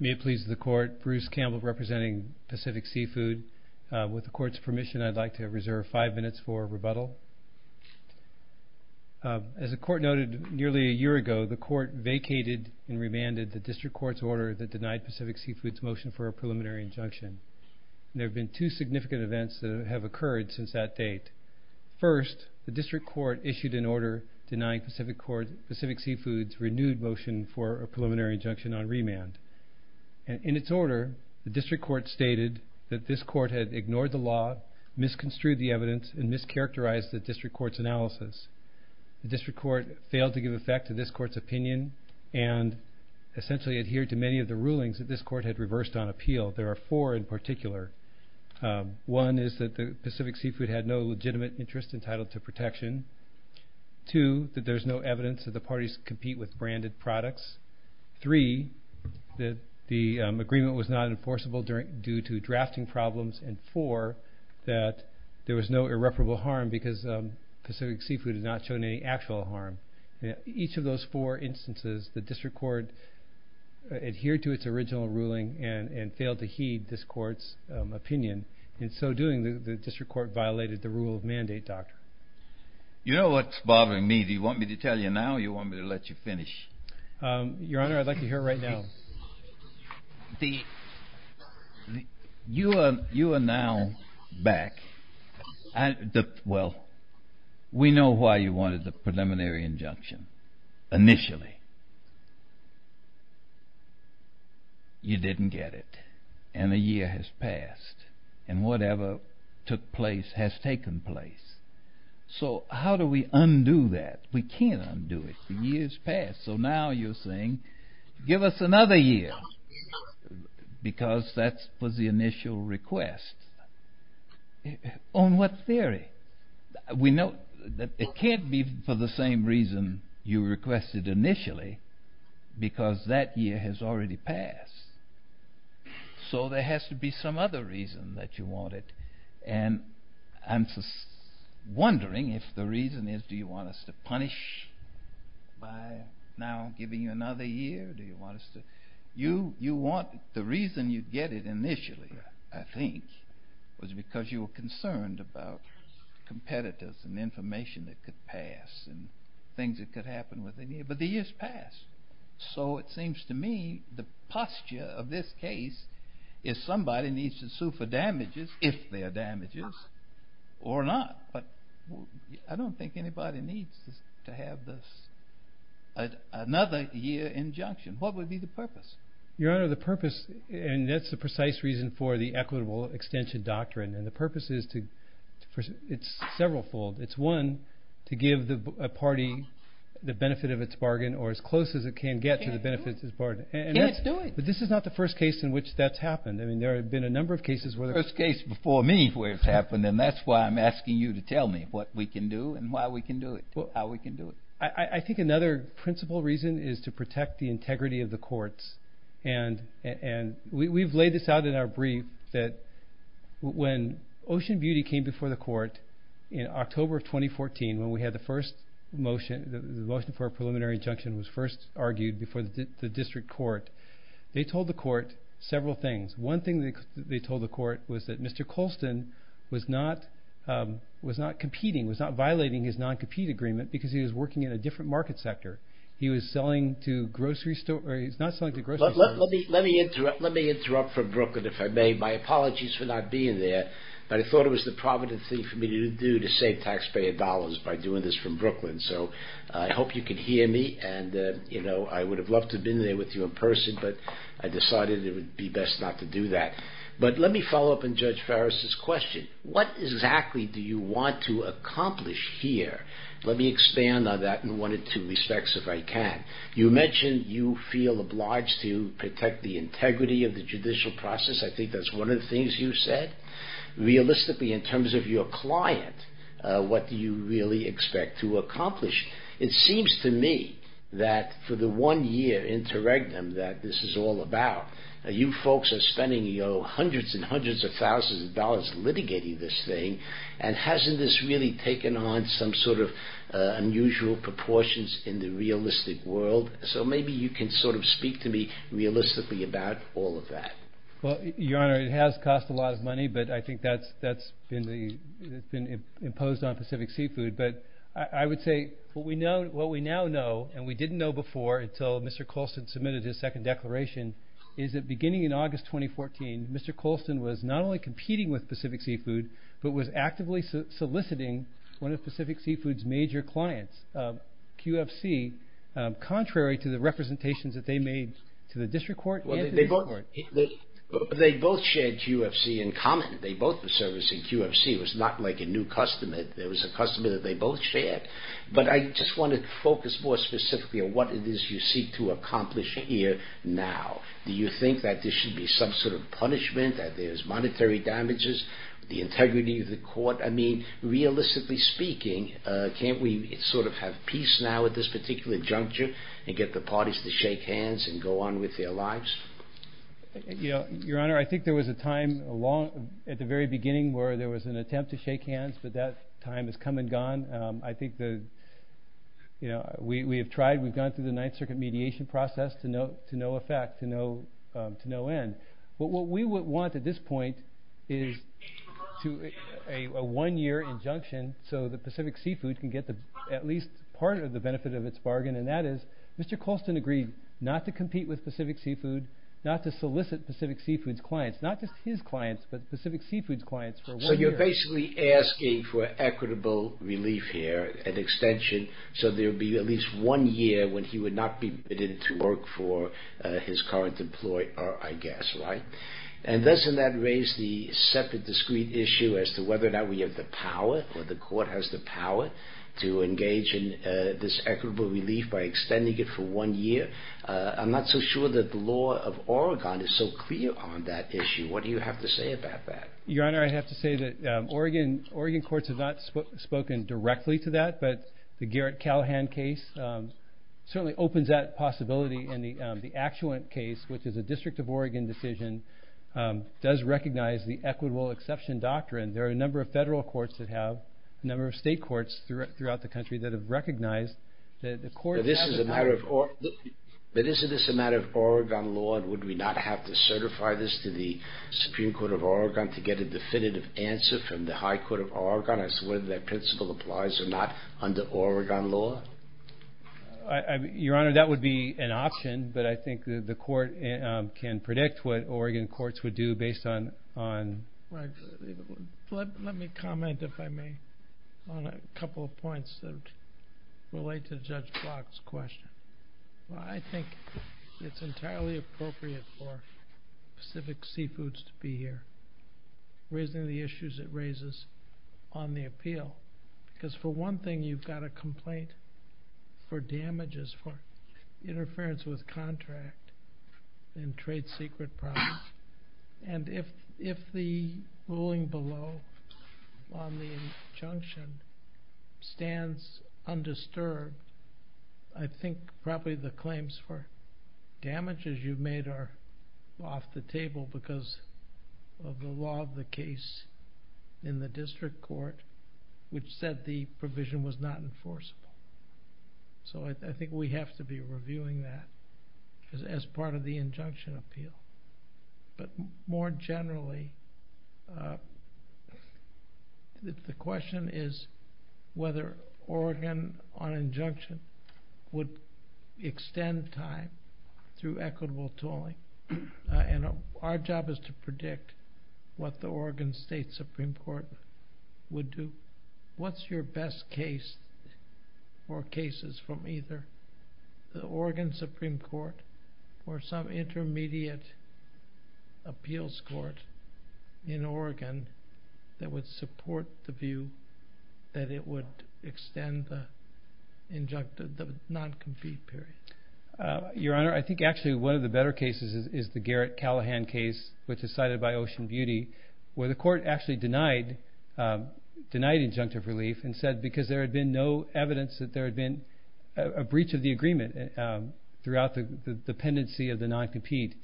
May it please the court Bruce Campbell representing Pacific Seafood with the court's permission I'd like to reserve five minutes for rebuttal. As the court noted nearly a year ago the court vacated and remanded the district court's order that denied Pacific Seafoods motion for a preliminary injunction. There have been two significant events that have occurred since that date. First the district court issued an order denying Pacific Seafoods renewed motion for a preliminary injunction on remand. In its order the district court stated that this court had ignored the law, misconstrued the evidence, and mischaracterized the district court's analysis. The district court failed to give effect to this court's opinion and essentially adhered to many of the rulings that this court had reversed on appeal. There are four in particular. One is that the Pacific Seafood had no legitimate interest entitled to protection. Two that there's no evidence that the parties compete with branded products. Three that the agreement was not enforceable during due to drafting problems. And four that there was no irreparable harm because Pacific Seafood has not shown any actual harm. Each of those four instances the district court adhered to its original ruling and and failed to heed this court's opinion. In so doing the district court violated the rule of mandate doctor. You know what's I can tell you now or you want me to let you finish? Your honor I'd like to hear it right now. You are now back. Well we know why you wanted the preliminary injunction initially. You didn't get it and a year has passed and whatever took place has taken place. So how do we undo that? We can't undo it. The years passed so now you're saying give us another year because that was the initial request. On what theory? We know that it can't be for the same reason you requested initially because that year has already passed. So there it and I'm just wondering if the reason is do you want us to punish by now giving you another year? Do you want us to you you want the reason you get it initially I think was because you were concerned about competitors and information that could pass and things that could happen within a year but the years passed. So it seems to me the posture of this case is somebody needs to sue for damages if they are damages or not but I don't think anybody needs to have this another year injunction. What would be the purpose? Your honor the purpose and that's the precise reason for the equitable extension doctrine and the purpose is to first it's several fold it's one to give the party the benefit of its bargain or as close as it can get to the benefits as part and let's do it but this is not the first case in which that's happened I mean there have been a number of cases. First case before me where it's happened and that's why I'm asking you to tell me what we can do and why we can do it how we can do it. I think another principle reason is to protect the integrity of the courts and and we've laid this out in our brief that when Ocean Beauty came before the court in October of 2014 when we had the first motion the motion for a preliminary injunction was first argued before the district court they told the court several things one thing they told the court was that Mr. Colston was not was not competing was not violating his non-compete agreement because he was working in a different market sector he was selling to grocery store he's not selling to grocery store. Let me interrupt from Brooklyn if I may my apologies for not being there but I thought it was the provident thing for me to do to save taxpayer dollars by doing this from Brooklyn so I hope you can hear me and you know I would have loved to been there with you in person but I decided it would be best not to do that but let me follow up on Judge Farris's question what exactly do you want to accomplish here let me expand on that in one or two respects if I can. You mentioned you feel obliged to protect the integrity of the judicial process I think that's one of the things you said realistically in terms of your client what do you really expect to accomplish. It seems to me that for the one year interregnum that this is all about you folks are spending you know hundreds and hundreds of thousands of dollars litigating this thing and hasn't this really taken on some sort of unusual proportions in the realistic world so maybe you can sort of speak to me realistically about all of that. Well your honor it has cost a lot of money but I think that's been imposed on Pacific Seafood but I would say what we now know and we didn't know before until Mr. Colston submitted his second declaration is that beginning in August 2014 Mr. Colston was not only competing with Pacific Seafood but was actively soliciting one of Pacific Seafood's major clients QFC contrary to the representations that they made to the district court and the district court. They both shared QFC in common they both were servicing QFC it was not like a new customer it was a customer that they both shared but I just wanted to focus more specifically on what it is you seek to accomplish here now do you think that there should be some sort of punishment that there's monetary damages the integrity of the court I mean realistically speaking can't we sort of have peace now at this particular juncture and get the parties to shake hands and go on with their lives. You know your honor I think there was a time along at the very beginning where there was an attempt to shake hands but that time has come and gone I think that you know we have tried we've gone through the Ninth Circuit mediation process to no effect to no end but what we would want at this point is to a one year injunction so that Pacific Seafood can get at least part of the benefit of its bargain and that is Mr. Colston agreed not to compete with Pacific Seafood. Not to solicit Pacific Seafood's clients not just his clients but Pacific Seafood's clients. So you're basically asking for equitable relief here an extension so there will be at least one year when he would not be permitted to work for his current employee I guess right and doesn't that raise the separate discrete issue as to whether or not we have the power or the court has the power to engage in this equitable relief by extending it for one year I'm not so sure that the law of Oregon is so clear on that issue what do you have to say about that? Your honor I have to say that Oregon courts have not spoken directly to that but the Garrett Callahan case certainly opens that possibility and the Actuant case which is a district of Oregon decision does recognize the equitable exception doctrine there are a number of federal courts that have a number of state courts throughout the country that have recognized that the court has the power. But isn't this a matter of Oregon law and would we not have to certify this to the Supreme Court of Oregon to get a definitive answer from the High Court of Oregon as to whether that principle applies or not under Oregon law? Your honor that would be an option but I think the court can predict what Oregon courts would do based on. Let me comment if I may on a couple of points that relate to Judge Block's question. I think it's entirely appropriate for Pacific Seafoods to be here raising the issues it raises on the appeal because for one thing you've got a complaint for damages for interference with contract and trade secret products. And if the ruling below on the injunction stands undisturbed I think probably the claims for damages you've made are off the table because of the law of the case in the district court which said the provision was not enforceable so I think we have to be reviewing that as part of the injunction appeal. But more generally the question is whether Oregon on injunction would extend time through equitable tooling and our job is to predict what the Oregon State Supreme Court would do. What's your best case or cases from either the Oregon Supreme Court or some intermediate appeals court in Oregon that would support the view that it would extend the non-compete period? Your Honor I think actually one of the better cases is the Garrett Callahan case which is cited by Ocean Beauty where the court actually denied injunctive relief and said because there had been no evidence that there had been a breach of the agreement throughout the dependency of the non-compete.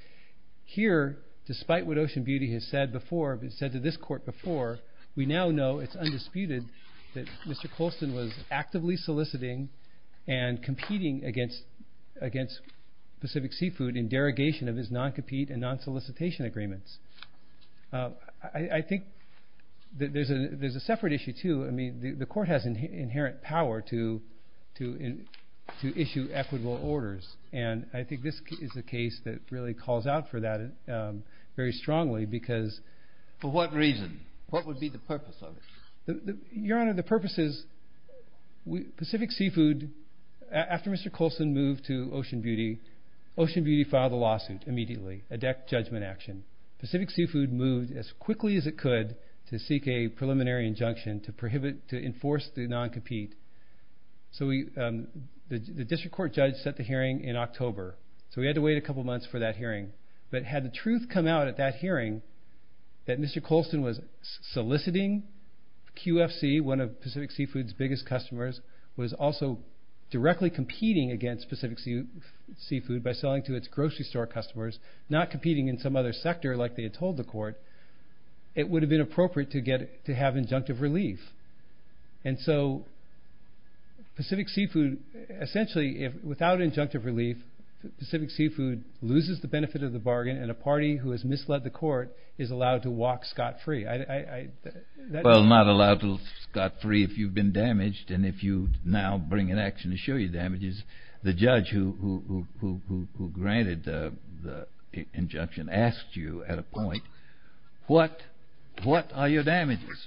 Here despite what Ocean Beauty has said to this court before we now know it's undisputed that Mr. Colston was actively soliciting and competing against Pacific Seafood in derogation of his non-compete and non-solicitation agreements. I think there's a separate issue too I mean the court has inherent power to issue equitable orders and I think this is a case that really calls out for that very strongly. For what reason? What would be the purpose of it? Your Honor the purpose is Pacific Seafood after Mr. Colston moved to Ocean Beauty, Ocean Beauty filed a lawsuit immediately a death judgment action. Pacific Seafood moved as quickly as it could to seek a preliminary injunction to enforce the non-compete. So the district court judge set the hearing in October so we had to wait a couple months for that hearing but had the truth come out at that hearing that Mr. Colston was soliciting QFC one of Pacific Seafood's biggest customers was also directly competing against Pacific Seafood by selling to its grocery store customers not competing in some other sector like they had told the court it would have been appropriate to have injunctive relief. And so Pacific Seafood essentially without injunctive relief Pacific Seafood loses the benefit of the bargain and a party who has misled the court is allowed to walk scot-free. Well not allowed to walk scot-free if you've been damaged and if you now bring an action to show your damages the judge who granted the injunction asked you at a point what are your damages?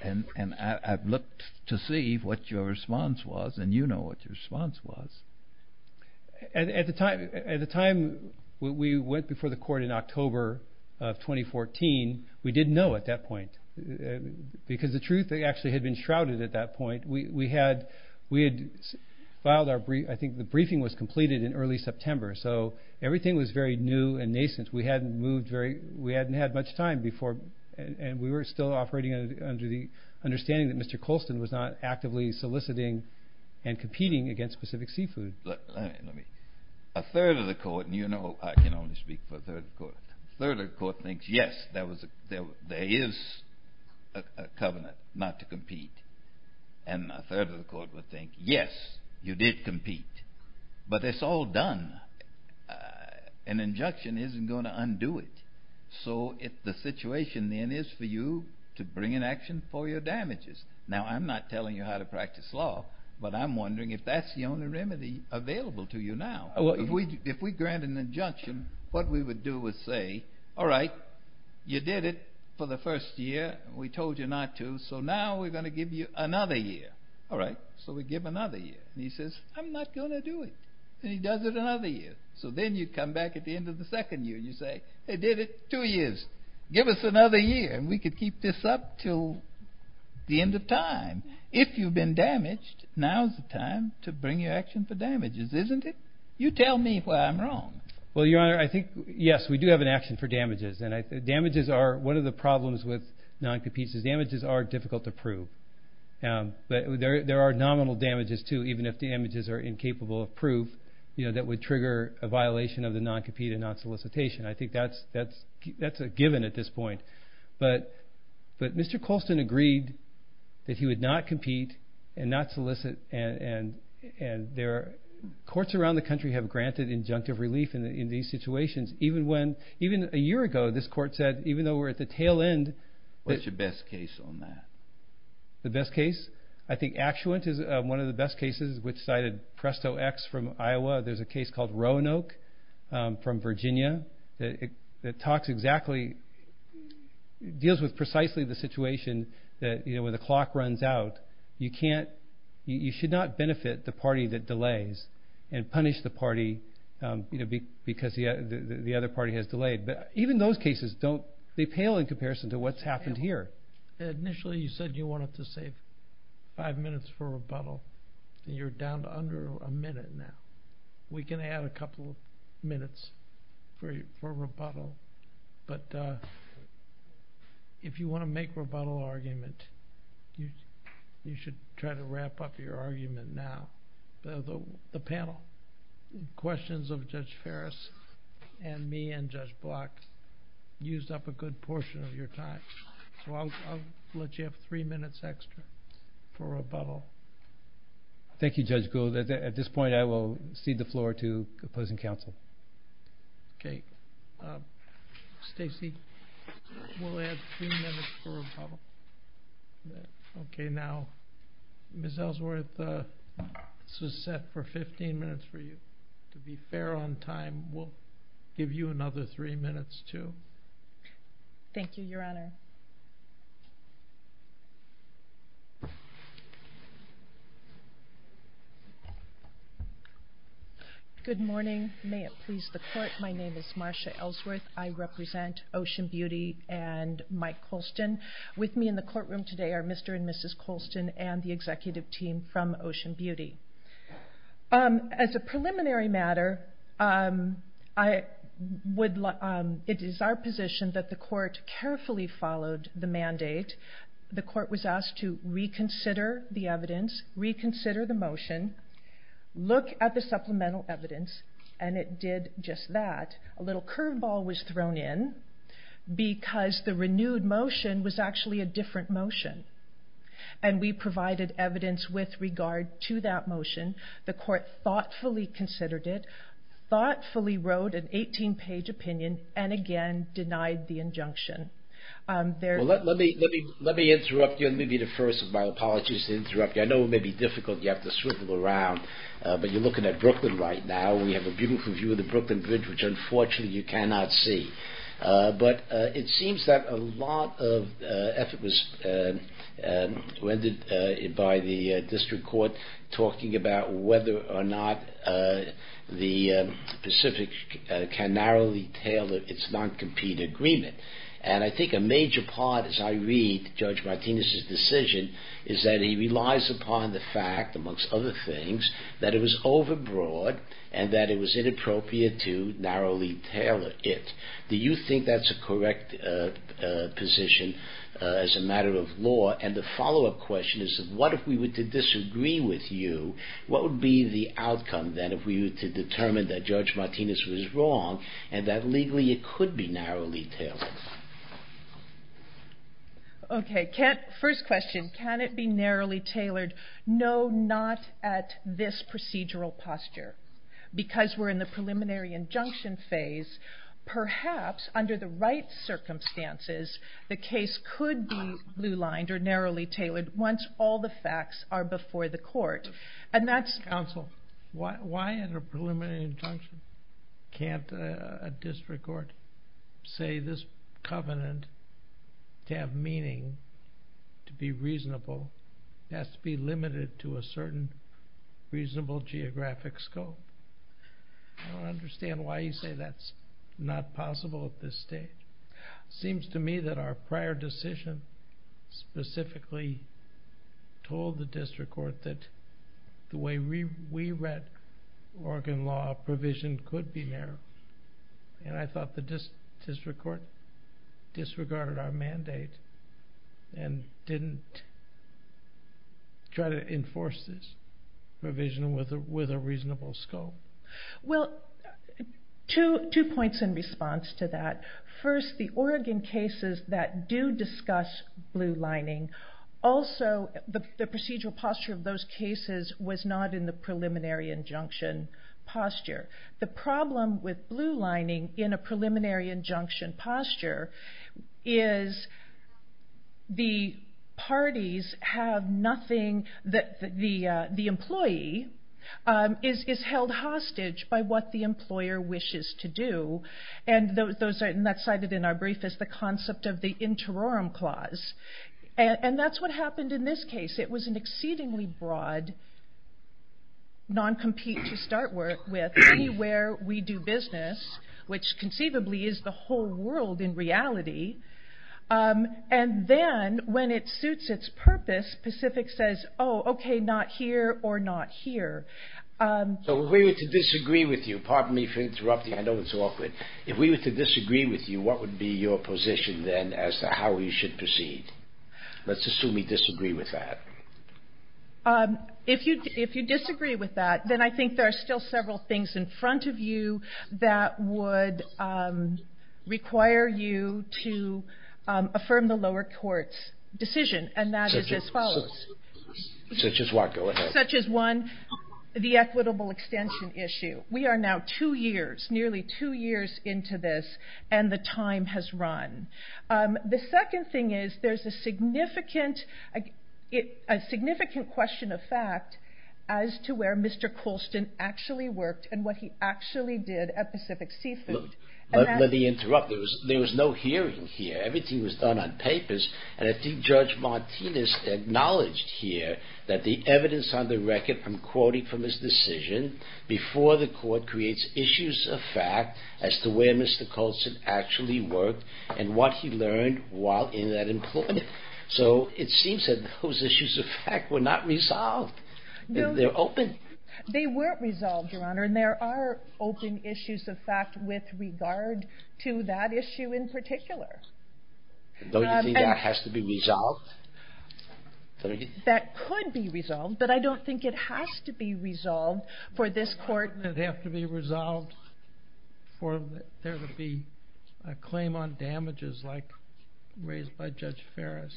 And I've looked to see what your response was and you know what your response was. At the time we went before the court in October of 2014 we didn't know at that point because the truth actually had been shrouded at that point. We had filed I think the briefing was completed in early September so everything was very new and nascent we hadn't had much time before and we were still operating under the understanding that Mr. Colston was not actively soliciting and competing against Pacific Seafood. A third of the court and you know I can only speak for a third of the court. A third of the court thinks yes there is a covenant not to compete and a third of the court would think yes you did compete but it's all done. An injunction isn't going to undo it so the situation then is for you to bring an action for your damages. Now I'm not telling you how to practice law but I'm wondering if that's the only remedy available to you now. If we grant an injunction what we would do is say all right you did it for the first year and we told you not to so now we're going to give you another year. All right so we give another year and he says I'm not going to do it and he does it another year. So then you come back at the end of the second year and you say I did it two years. Give us another year and we could keep this up until the end of time. If you've been damaged now is the time to bring your action for damages isn't it? You tell me why I'm wrong. Well your honor I think yes we do have an action for damages and damages are one of the problems with non-competes is damages are difficult to prove. But there are nominal damages too even if the damages are incapable of proof that would trigger a violation of the non-compete and non-solicitation. I think that's a given at this point. But Mr. Colston agreed that he would not compete and not solicit and courts around the country have granted injunctive relief in these situations. Even a year ago this court said even though we're at the tail end. What's your best case on that? The best case? I think Actuant is one of the best cases which cited Presto X from Iowa. There's a case called Roanoke from Virginia that deals with precisely the situation where the clock runs out. You should not benefit the party that delays and punish the party because the other party has delayed. Even those cases they pale in comparison to what's happened here. Initially you said you wanted to save five minutes for rebuttal and you're down to under a minute now. We can add a couple of minutes for rebuttal but if you want to make rebuttal argument you should try to wrap up your argument now. The panel questions of Judge Ferris and me and Judge Block used up a good portion of your time. I'll let you have three minutes extra for rebuttal. Thank you Judge Gould. At this point I will cede the floor to opposing counsel. Okay. Stacey we'll add three minutes for rebuttal. Okay now Ms. Ellsworth this was set for 15 minutes for you. To be fair on time we'll give you another three minutes too. Thank you Your Honor. Good morning. May it please the court. My name is Marsha Ellsworth. I represent Ocean Beauty and Mike Colston. With me in the courtroom today are Mr. and Mrs. Colston and the executive team from Ocean Beauty. As a preliminary matter it is our position that the court carefully followed the mandate. The court was asked to reconsider the evidence, reconsider the motion, look at the supplemental evidence and it did just that. A little curve ball was thrown in because the renewed motion was actually a different motion. And we provided evidence with regard to that motion. The court thoughtfully considered it, thoughtfully wrote an 18 page opinion and again denied the injunction. Let me interrupt you and let me be the first. My apologies to interrupt you. I know it may be difficult. You have to swivel around. But you're looking at Brooklyn right now. We have a beautiful view of the Brooklyn Bridge which unfortunately you cannot see. But it seems that a lot of effort was rendered by the district court talking about whether or not the Pacific can narrowly tailor its non-compete agreement. And I think a major part as I read Judge Martinez's decision is that he relies upon the fact, amongst other things, that it was overbroad and that it was inappropriate to narrowly tailor it. Do you think that's a correct position as a matter of law? And the follow-up question is what if we were to disagree with you? What would be the outcome then if we were to determine that Judge Martinez was wrong and that legally it could be narrowly tailored? Okay, first question. Can it be narrowly tailored? No, not at this procedural posture. Because we're in the preliminary injunction phase, perhaps under the right circumstances the case could be blue-lined or narrowly tailored once all the facts are before the court. Counsel, why in a preliminary injunction can't a district court say this covenant to have meaning, to be reasonable, has to be limited to a certain reasonable geographic scope? I don't understand why you say that's not possible at this stage. It seems to me that our prior decision specifically told the district court that the way we read Oregon law, provision could be narrow. And I thought the district court disregarded our mandate and didn't try to enforce this provision with a reasonable scope. Well, two points in response to that. First, the Oregon cases that do discuss blue-lining, also the procedural posture of those cases was not in the preliminary injunction posture. The problem with blue-lining in a preliminary injunction posture is the parties have nothing, the employee is held hostage by what the employer wishes to do. And that's cited in our brief as the concept of the interorum clause. And that's what happened in this case. It was an exceedingly broad non-compete to start with anywhere we do business, which conceivably is the whole world in reality. And then when it suits its purpose, Pacific says, oh, okay, not here or not here. So if we were to disagree with you, pardon me for interrupting. I know it's awkward. If we were to disagree with you, what would be your position then as to how we should proceed? Let's assume we disagree with that. If you disagree with that, then I think there are still several things in front of you that would require you to affirm the lower court's decision. And that is as follows. Such as what? Go ahead. Such as one, the equitable extension issue. We are now two years, nearly two years into this, and the time has run. The second thing is there's a significant question of fact as to where Mr. Colston actually worked and what he actually did at Pacific Seafood. Let me interrupt. There was no hearing here. Everything was done on papers. And I think Judge Martinez acknowledged here that the evidence on the record I'm quoting from his decision before the court creates issues of fact as to where Mr. Colston actually worked and what he learned while in that employment. So it seems that those issues of fact were not resolved. They're open. They weren't resolved, Your Honor. And there are open issues of fact with regard to that issue in particular. Don't you think that has to be resolved? That could be resolved. But I don't think it has to be resolved for this court. It would have to be resolved for there to be a claim on damages like raised by Judge Ferris.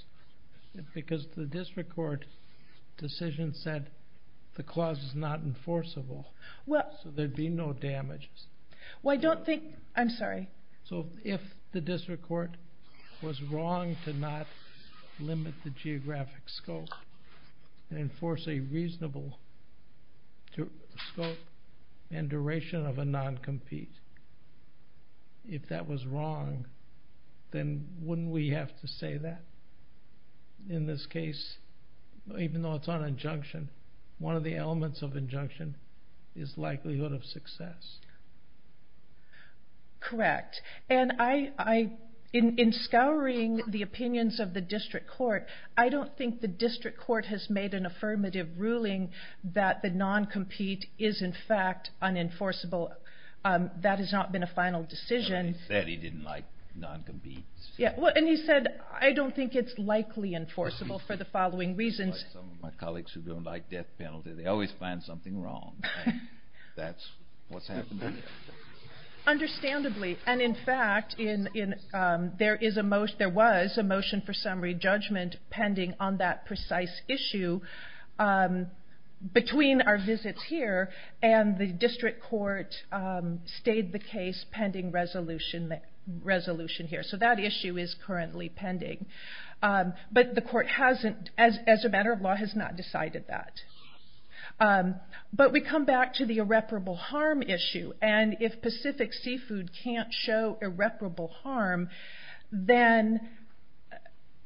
Because the district court decision said the clause is not enforceable. So there'd be no damages. Well, I don't think. I'm sorry. So if the district court was wrong to not limit the geographic scope and enforce a reasonable scope and duration of a non-compete, if that was wrong, then wouldn't we have to say that? In this case, even though it's on injunction, one of the elements of injunction is likelihood of success. Correct. And in scouring the opinions of the district court, I don't think the district court has made an affirmative ruling that the non-compete is in fact unenforceable. That has not been a final decision. He said he didn't like non-competes. Yeah. And he said, I don't think it's likely enforceable for the following reasons. Some of my colleagues who don't like death penalty, they always find something wrong. That's what's happened here. Understandably. And in fact, there was a motion for summary judgment pending on that precise issue between our visits here and the district court stayed the case pending resolution here. So that issue is currently pending. But the court hasn't, as a matter of law, has not decided that. But we come back to the irreparable harm issue. And if Pacific Seafood can't show irreparable harm, then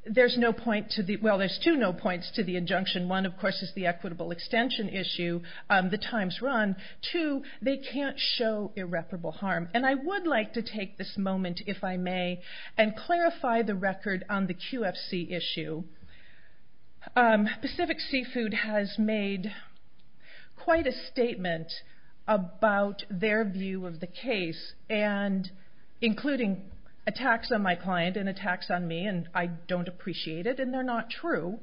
there's no point to the, well, there's two no points to the injunction. One, of course, is the equitable extension issue. The time's run. Two, they can't show irreparable harm. And I would like to take this moment, if I may, and clarify the record on the QFC issue. Pacific Seafood has made quite a statement about their view of the case. And including attacks on my client and attacks on me. And I don't appreciate it. And they're not true.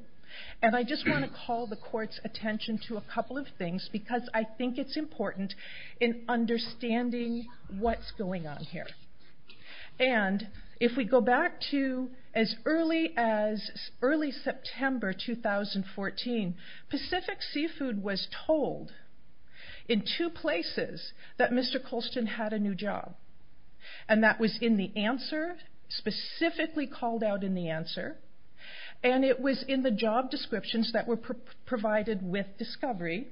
And I just want to call the court's attention to a couple of things because I think it's important in understanding what's going on here. And if we go back to as early as early September 2014, Pacific Seafood was told in two places that Mr. Colston had a new job. And that was in the answer, specifically called out in the answer. And it was in the job descriptions that were provided with discovery.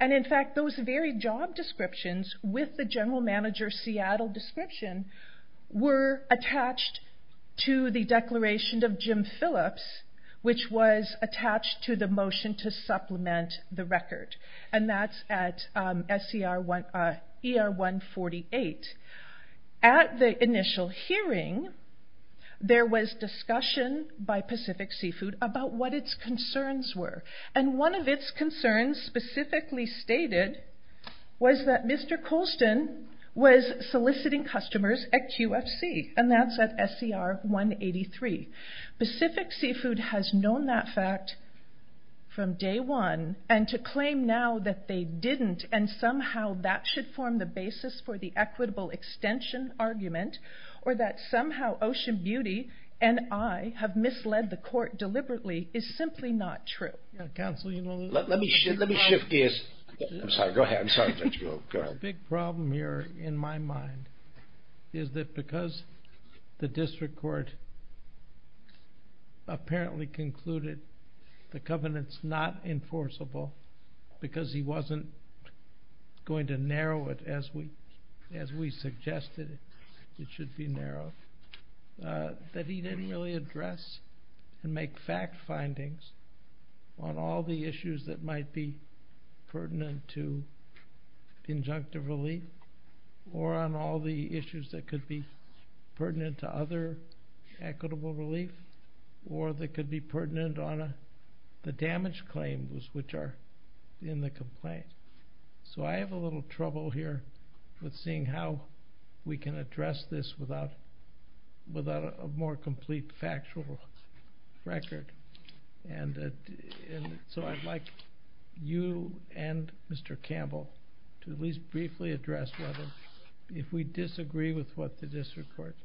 And, in fact, those very job descriptions with the general manager Seattle description were attached to the declaration of Jim Phillips, which was attached to the motion to supplement the record. And that's at ER 148. At the initial hearing, there was discussion by Pacific Seafood about what its concerns were. And one of its concerns specifically stated was that Mr. Colston was soliciting customers at QFC. And that's at SCR 183. Pacific Seafood has known that fact from day one. And to claim now that they didn't and somehow that should form the basis for the equitable extension argument, or that somehow Ocean Beauty and I have misled the court deliberately is simply not true. Let me shift gears. I'm sorry. Go ahead. The big problem here, in my mind, is that because the district court apparently concluded the covenant's not enforceable because he wasn't going to narrow it as we suggested it should be narrowed, that he didn't really address and make fact findings on all the issues that might be pertinent to injunctive relief, or on all the issues that could be pertinent to other equitable relief, or that could be pertinent on the damage claims which are in the complaint. So I have a little trouble here with seeing how we can address this without a more complete factual record. And so I'd like you and Mr. Campbell to at least briefly address whether, if we disagree with what the district court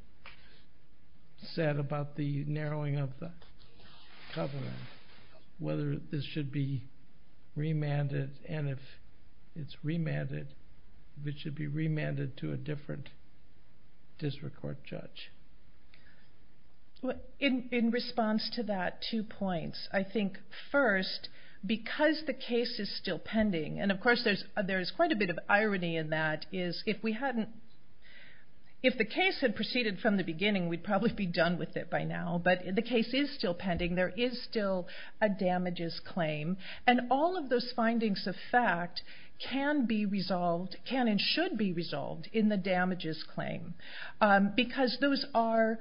said about the narrowing of the covenant, whether this should be remanded, and if it's remanded, if it should be remanded to a different district court judge. In response to that, two points. I think first, because the case is still pending, and of course there's quite a bit of irony in that, is if the case had proceeded from the beginning we'd probably be done with it by now, but the case is still pending, there is still a damages claim, and all of those findings of fact can be resolved, can and should be resolved, in the damages claim. Because those are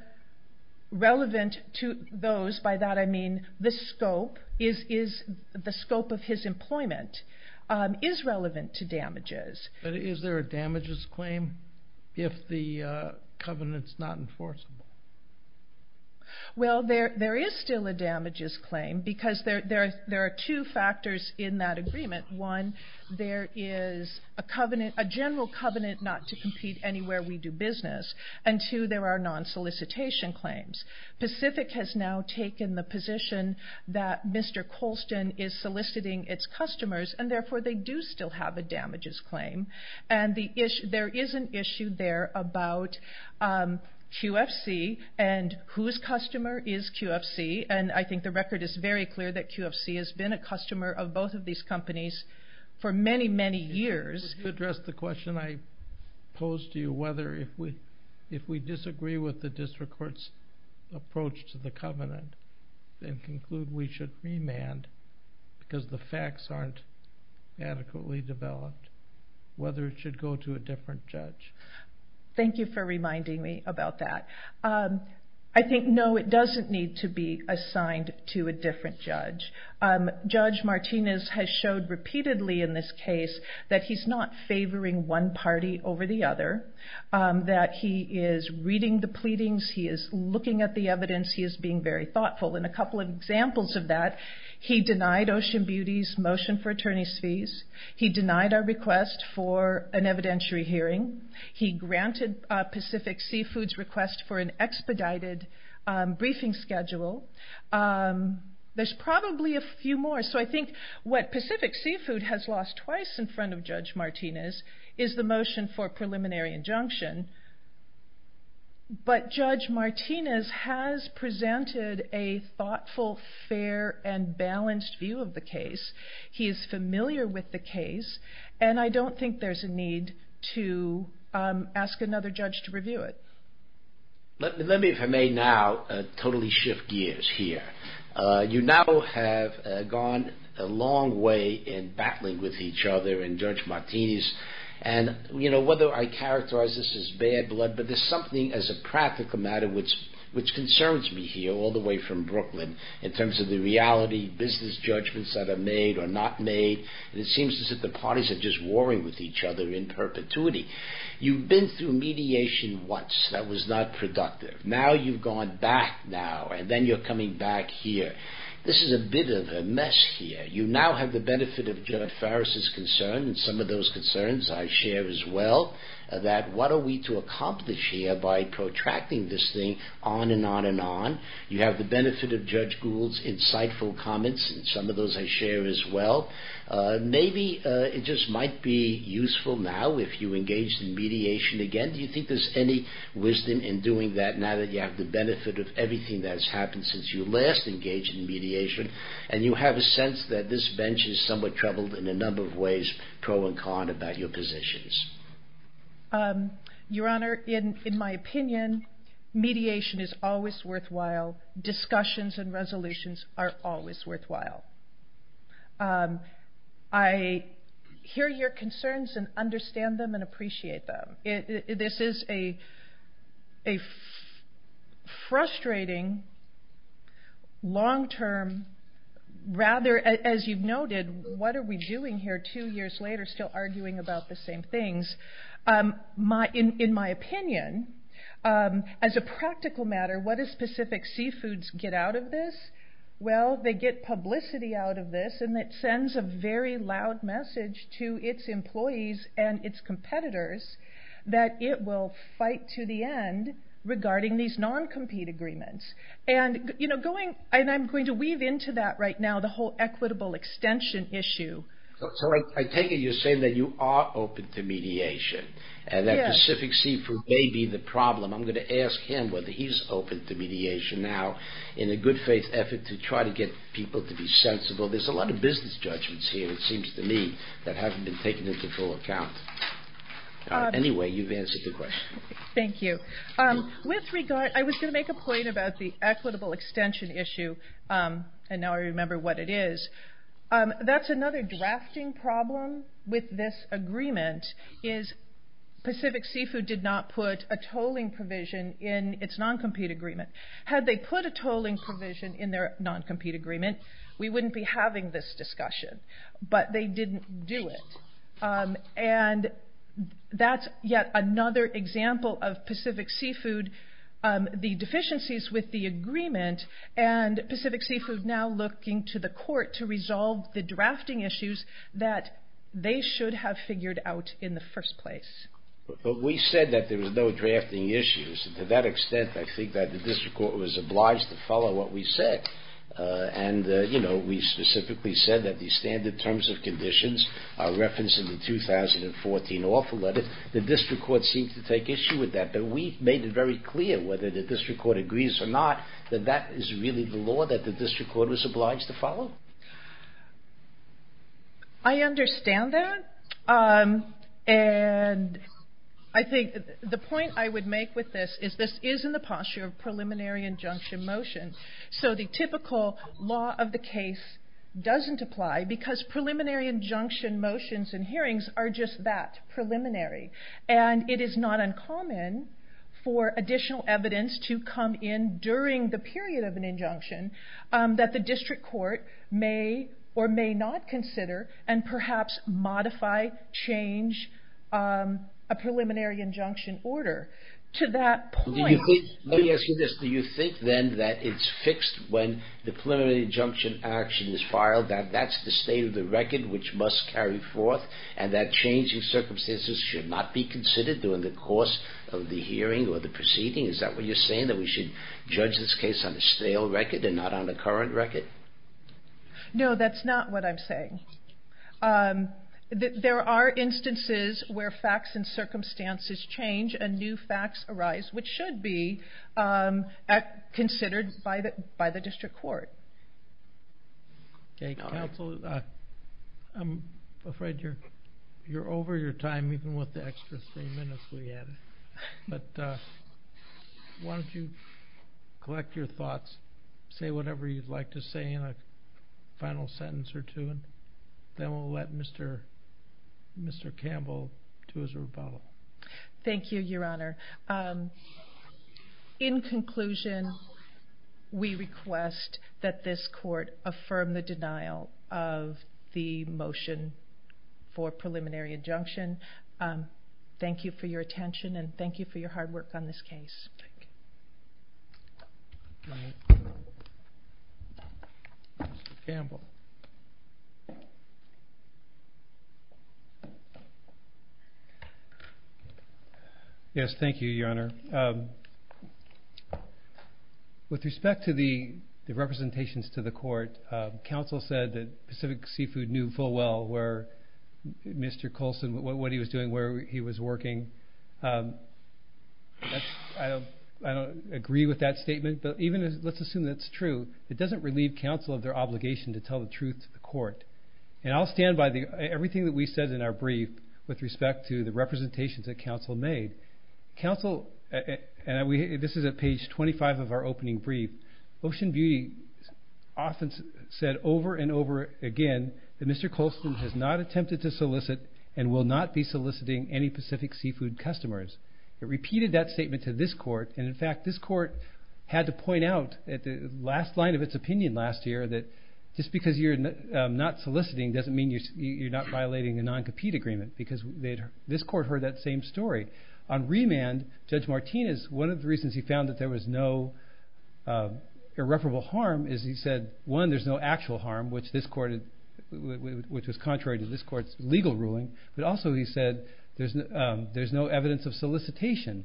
relevant to those, by that I mean the scope of his employment is relevant to damages. But is there a damages claim if the covenant's not enforceable? Well, there is still a damages claim, because there are two factors in that agreement. One, there is a general covenant not to compete anywhere we do business, and two, there are non-solicitation claims. Pacific has now taken the position that Mr. Colston is soliciting its customers, and therefore they do still have a damages claim. And there is an issue there about QFC and whose customer is QFC, and I think the record is very clear that QFC has been a customer of both of these companies for many, many years. To address the question I posed to you, whether if we disagree with the district court's approach to the covenant, and conclude we should remand because the facts aren't adequately developed, whether it should go to a different judge? Thank you for reminding me about that. I think no, it doesn't need to be assigned to a different judge. Judge Martinez has showed repeatedly in this case that he's not favoring one party over the other, that he is reading the pleadings, he is looking at the evidence, he is being very thoughtful. And a couple of examples of that, he denied Ocean Beauty's motion for attorney's fees, he denied our request for an evidentiary hearing, he granted Pacific Seafood's request for an expedited briefing schedule. There's probably a few more, so I think what Pacific Seafood has lost twice in front of Judge Martinez is the motion for preliminary injunction. But Judge Martinez has presented a thoughtful, fair, and balanced view of the case. He is familiar with the case, and I don't think there's a need to ask another judge to review it. Let me, if I may now, totally shift gears here. You now have gone a long way in battling with each other and Judge Martinez, and whether I characterize this as bad blood, but there's something as a practical matter which concerns me here, all the way from Brooklyn, in terms of the reality, business judgments that are made or not made, and it seems as if the parties are just warring with each other in perpetuity. You've been through mediation once, that was not productive. Now you've gone back now, and then you're coming back here. This is a bit of a mess here. You now have the benefit of Judge Farris's concern, and some of those concerns I share as well, that what are we to accomplish here by protracting this thing on and on and on. You have the benefit of Judge Gould's insightful comments, and some of those I share as well. Maybe it just might be useful now if you engage in mediation again. Do you think there's any wisdom in doing that now that you have the benefit of everything that has happened since you last engaged in mediation, and you have a sense that this bench is somewhat troubled in a number of ways, pro and con about your positions? Your Honor, in my opinion, mediation is always worthwhile. Discussions and resolutions are always worthwhile. I hear your concerns and understand them and appreciate them. This is a frustrating, long-term... Rather, as you've noted, what are we doing here two years later still arguing about the same things? In my opinion, as a practical matter, what does Pacific Seafoods get out of this? Well, they get publicity out of this, and it sends a very loud message to its employees and its competitors that it will fight to the end regarding these non-compete agreements. I'm going to weave into that right now the whole equitable extension issue. So I take it you're saying that you are open to mediation, and that Pacific Seafoods may be the problem. I'm going to ask him whether he's open to mediation now in a good faith effort to try to get people to be sensible. There's a lot of business judgments here, it seems to me, that haven't been taken into full account. Anyway, you've answered the question. Thank you. I was going to make a point about the equitable extension issue, and now I remember what it is. That's another drafting problem with this agreement, is Pacific Seafood did not put a tolling provision in its non-compete agreement. Had they put a tolling provision in their non-compete agreement, we wouldn't be having this discussion, but they didn't do it. And that's yet another example of Pacific Seafood, the deficiencies with the agreement, and Pacific Seafood now looking to the court to resolve the drafting issues that they should have figured out in the first place. But we said that there was no drafting issues. To that extent, I think that the district court was obliged to follow what we said. And, you know, we specifically said that the standard terms of conditions are referenced in the 2014 offer letter. The district court seemed to take issue with that, but we made it very clear whether the district court agrees or not that that is really the law that the district court was obliged to follow. I understand that. And I think the point I would make with this is this is in the posture of preliminary injunction motion. So the typical law of the case doesn't apply because preliminary injunction motions and hearings are just that, preliminary. And it is not uncommon for additional evidence to come in during the period of an injunction that the district court may or may not consider and perhaps modify, change a preliminary injunction order. Let me ask you this. Do you think then that it's fixed when the preliminary injunction action is filed that that's the state of the record which must carry forth and that changing circumstances should not be considered during the course of the hearing or the proceeding? Is that what you're saying? That we should judge this case on a stale record and not on a current record? No, that's not what I'm saying. There are instances where facts and circumstances change. And new facts arise, which should be considered by the district court. Okay, counsel, I'm afraid you're over your time even with the extra three minutes we had. But why don't you collect your thoughts, say whatever you'd like to say in a final sentence or two, and then we'll let Mr. Campbell do his rebuttal. Thank you, Your Honor. In conclusion, we request that this court affirm the denial of the motion for preliminary injunction. Thank you for your attention and thank you for your hard work on this case. Mr. Campbell. Yes, thank you, Your Honor. With respect to the representations to the court, counsel said that Pacific Seafood knew full well what Mr. Colson was doing, where he was working. I don't agree with that statement, but let's assume that's true. It doesn't relieve counsel of their obligation to tell the truth to the court. And I'll stand by everything that we said in our brief with respect to the representations that counsel made. Counsel, and this is at page 25 of our opening brief, Ocean Beauty often said over and over again that Mr. Colson has not attempted to solicit and will not be soliciting any Pacific Seafood customers. It repeated that statement to this court, and, in fact, this court had to point out at the last line of its opinion last year that just because you're not soliciting doesn't mean you're not violating a non-compete agreement, because this court heard that same story. On remand, Judge Martinez, one of the reasons he found that there was no irreparable harm is he said, one, there's no actual harm, which was contrary to this court's legal ruling, but also he said there's no evidence of solicitation.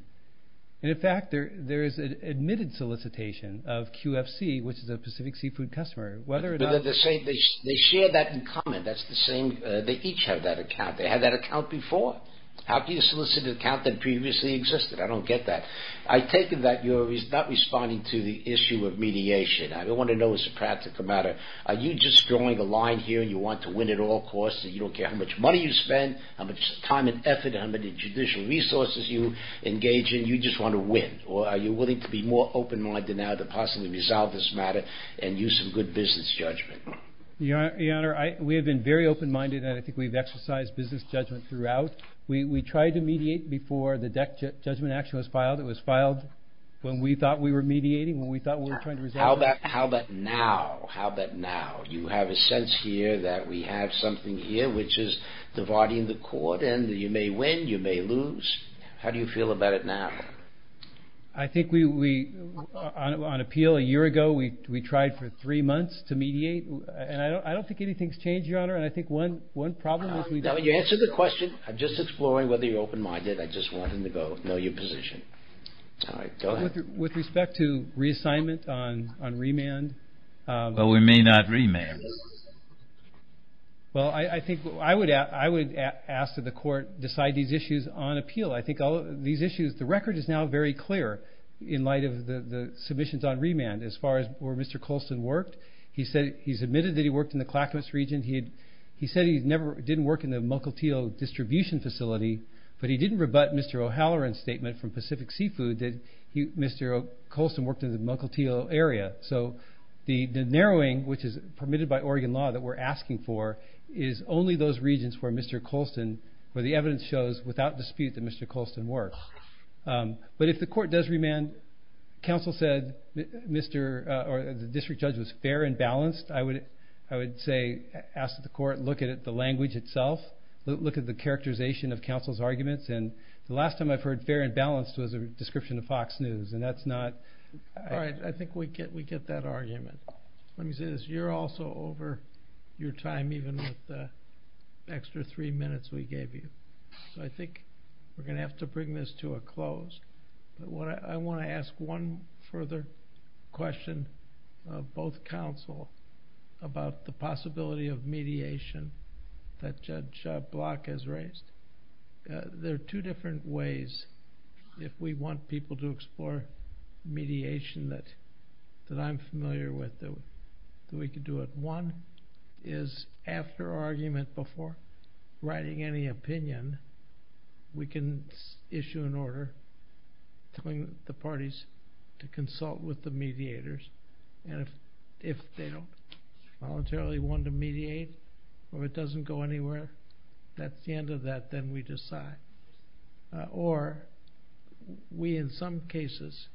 And, in fact, there is an admitted solicitation of QFC, which is a Pacific Seafood customer. They share that in common. That's the same. They each have that account. They had that account before. How can you solicit an account that previously existed? I don't get that. I take it that you're not responding to the issue of mediation. I want to know as a practical matter, are you just drawing a line here and you want to win at all costs and you don't care how much money you spend, how much time and effort, how many judicial resources you engage in? You just want to win, or are you willing to be more open-minded now to possibly resolve this matter and use some good business judgment? Your Honor, we have been very open-minded and I think we've exercised business judgment throughout. We tried to mediate before the DEC judgment action was filed. It was filed when we thought we were mediating, when we thought we were trying to resolve it. How about now? How about now? You have a sense here that we have something here, which is dividing the court, and you may win, you may lose. How do you feel about it now? I think we, on appeal a year ago, we tried for three months to mediate, and I don't think anything's changed, Your Honor, and I think one problem is... You answered the question. I'm just exploring whether you're open-minded. I just wanted to know your position. All right, go ahead. With respect to reassignment on remand... Well, we may not remand. Well, I think I would ask that the court decide these issues on appeal. I think these issues... The record is now very clear in light of the submissions on remand. As far as where Mr. Colston worked, he's admitted that he worked in the Clackamas region. He said he didn't work in the Mukilteo distribution facility, but he didn't rebut Mr. O'Halloran's statement from Pacific Seafood that Mr. Colston worked in the Mukilteo area. So the narrowing, which is permitted by Oregon law that we're asking for, is only those regions where Mr. Colston, where the evidence shows without dispute that Mr. Colston worked. But if the court does remand, counsel said the district judge was fair and balanced, I would ask that the court look at the language itself, look at the characterization of counsel's arguments. The last time I've heard fair and balanced was a description of Fox News, and that's not... All right, I think we get that argument. Let me say this. You're also over your time, even with the extra three minutes we gave you. So I think we're going to have to bring this to a close. But I want to ask one further question of both counsel about the possibility of mediation that Judge Block has raised. There are two different ways, if we want people to explore mediation that I'm familiar with, that we could do it. One is after argument before writing any opinion, we can issue an order telling the parties to consult with the mediators. And if they don't voluntarily want to mediate, or it doesn't go anywhere, that's the end of that. Then we decide. Or we, in some cases,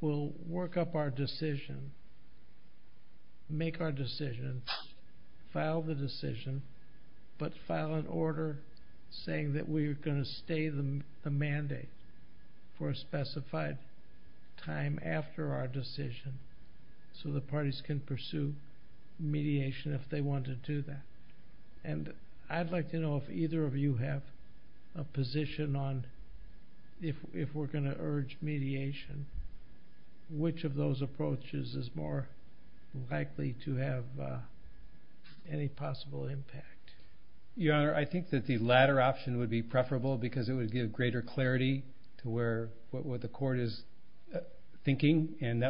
will work up our decision, make our decision, file the decision, but file an order saying that we're going to stay the mandate for a specified time after our decision so the parties can pursue mediation if they want to do that. And I'd like to know if either of you have a position on if we're going to urge mediation, which of those approaches is more likely to have any possible impact? Your Honor, I think that the latter option would be preferable because it would give greater clarity to what the court is thinking. And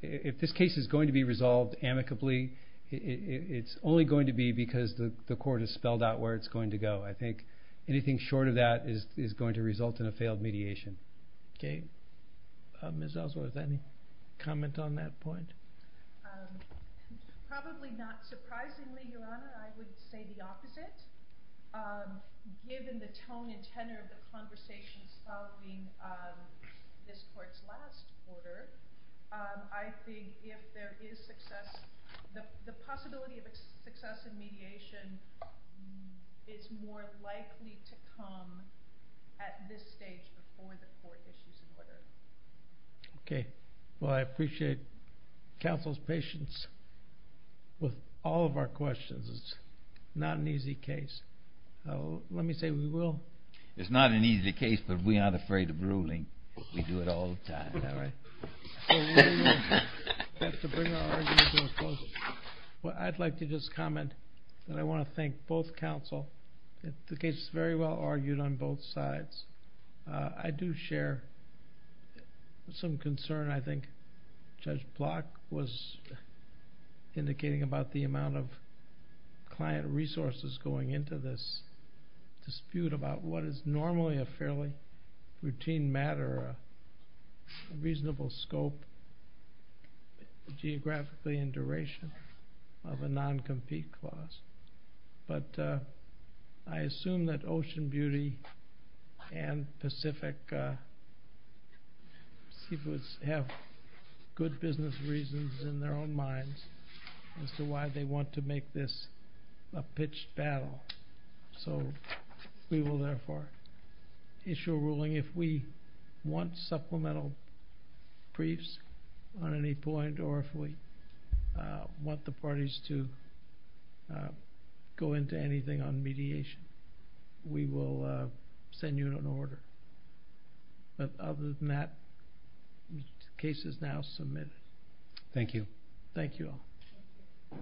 if this case is going to be resolved amicably, it's only going to be because the court has spelled out where it's going to go. I think anything short of that is going to result in a failed mediation. Okay. Ms. Ellsworth, any comment on that point? Probably not surprisingly, Your Honor. I would say the opposite. Given the tone and tenor of the conversations following this court's last order, I think if there is success, the possibility of success in mediation is more likely to come at this stage before the court issues an order. Okay. Well, I appreciate counsel's patience with all of our questions. It's not an easy case. Let me say we will. It's not an easy case, but we aren't afraid of ruling. We do it all the time. I'd like to just comment that I want to thank both counsel. The case is very well argued on both sides. I do share some concern. I think Judge Block was indicating about the amount of client resources going into this dispute about what is normally a fairly routine matter, a reasonable scope, geographically in duration of a non-compete clause. But I assume that Ocean Beauty and Pacific Seafoods have good business reasons in their own minds as to why they want to make this a pitched battle. So we will therefore issue a ruling. If we want supplemental briefs on any point or if we want the parties to go into anything on mediation, we will send you an order. But other than that, the case is now submitted. Thank you. Thank you all.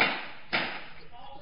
All rise.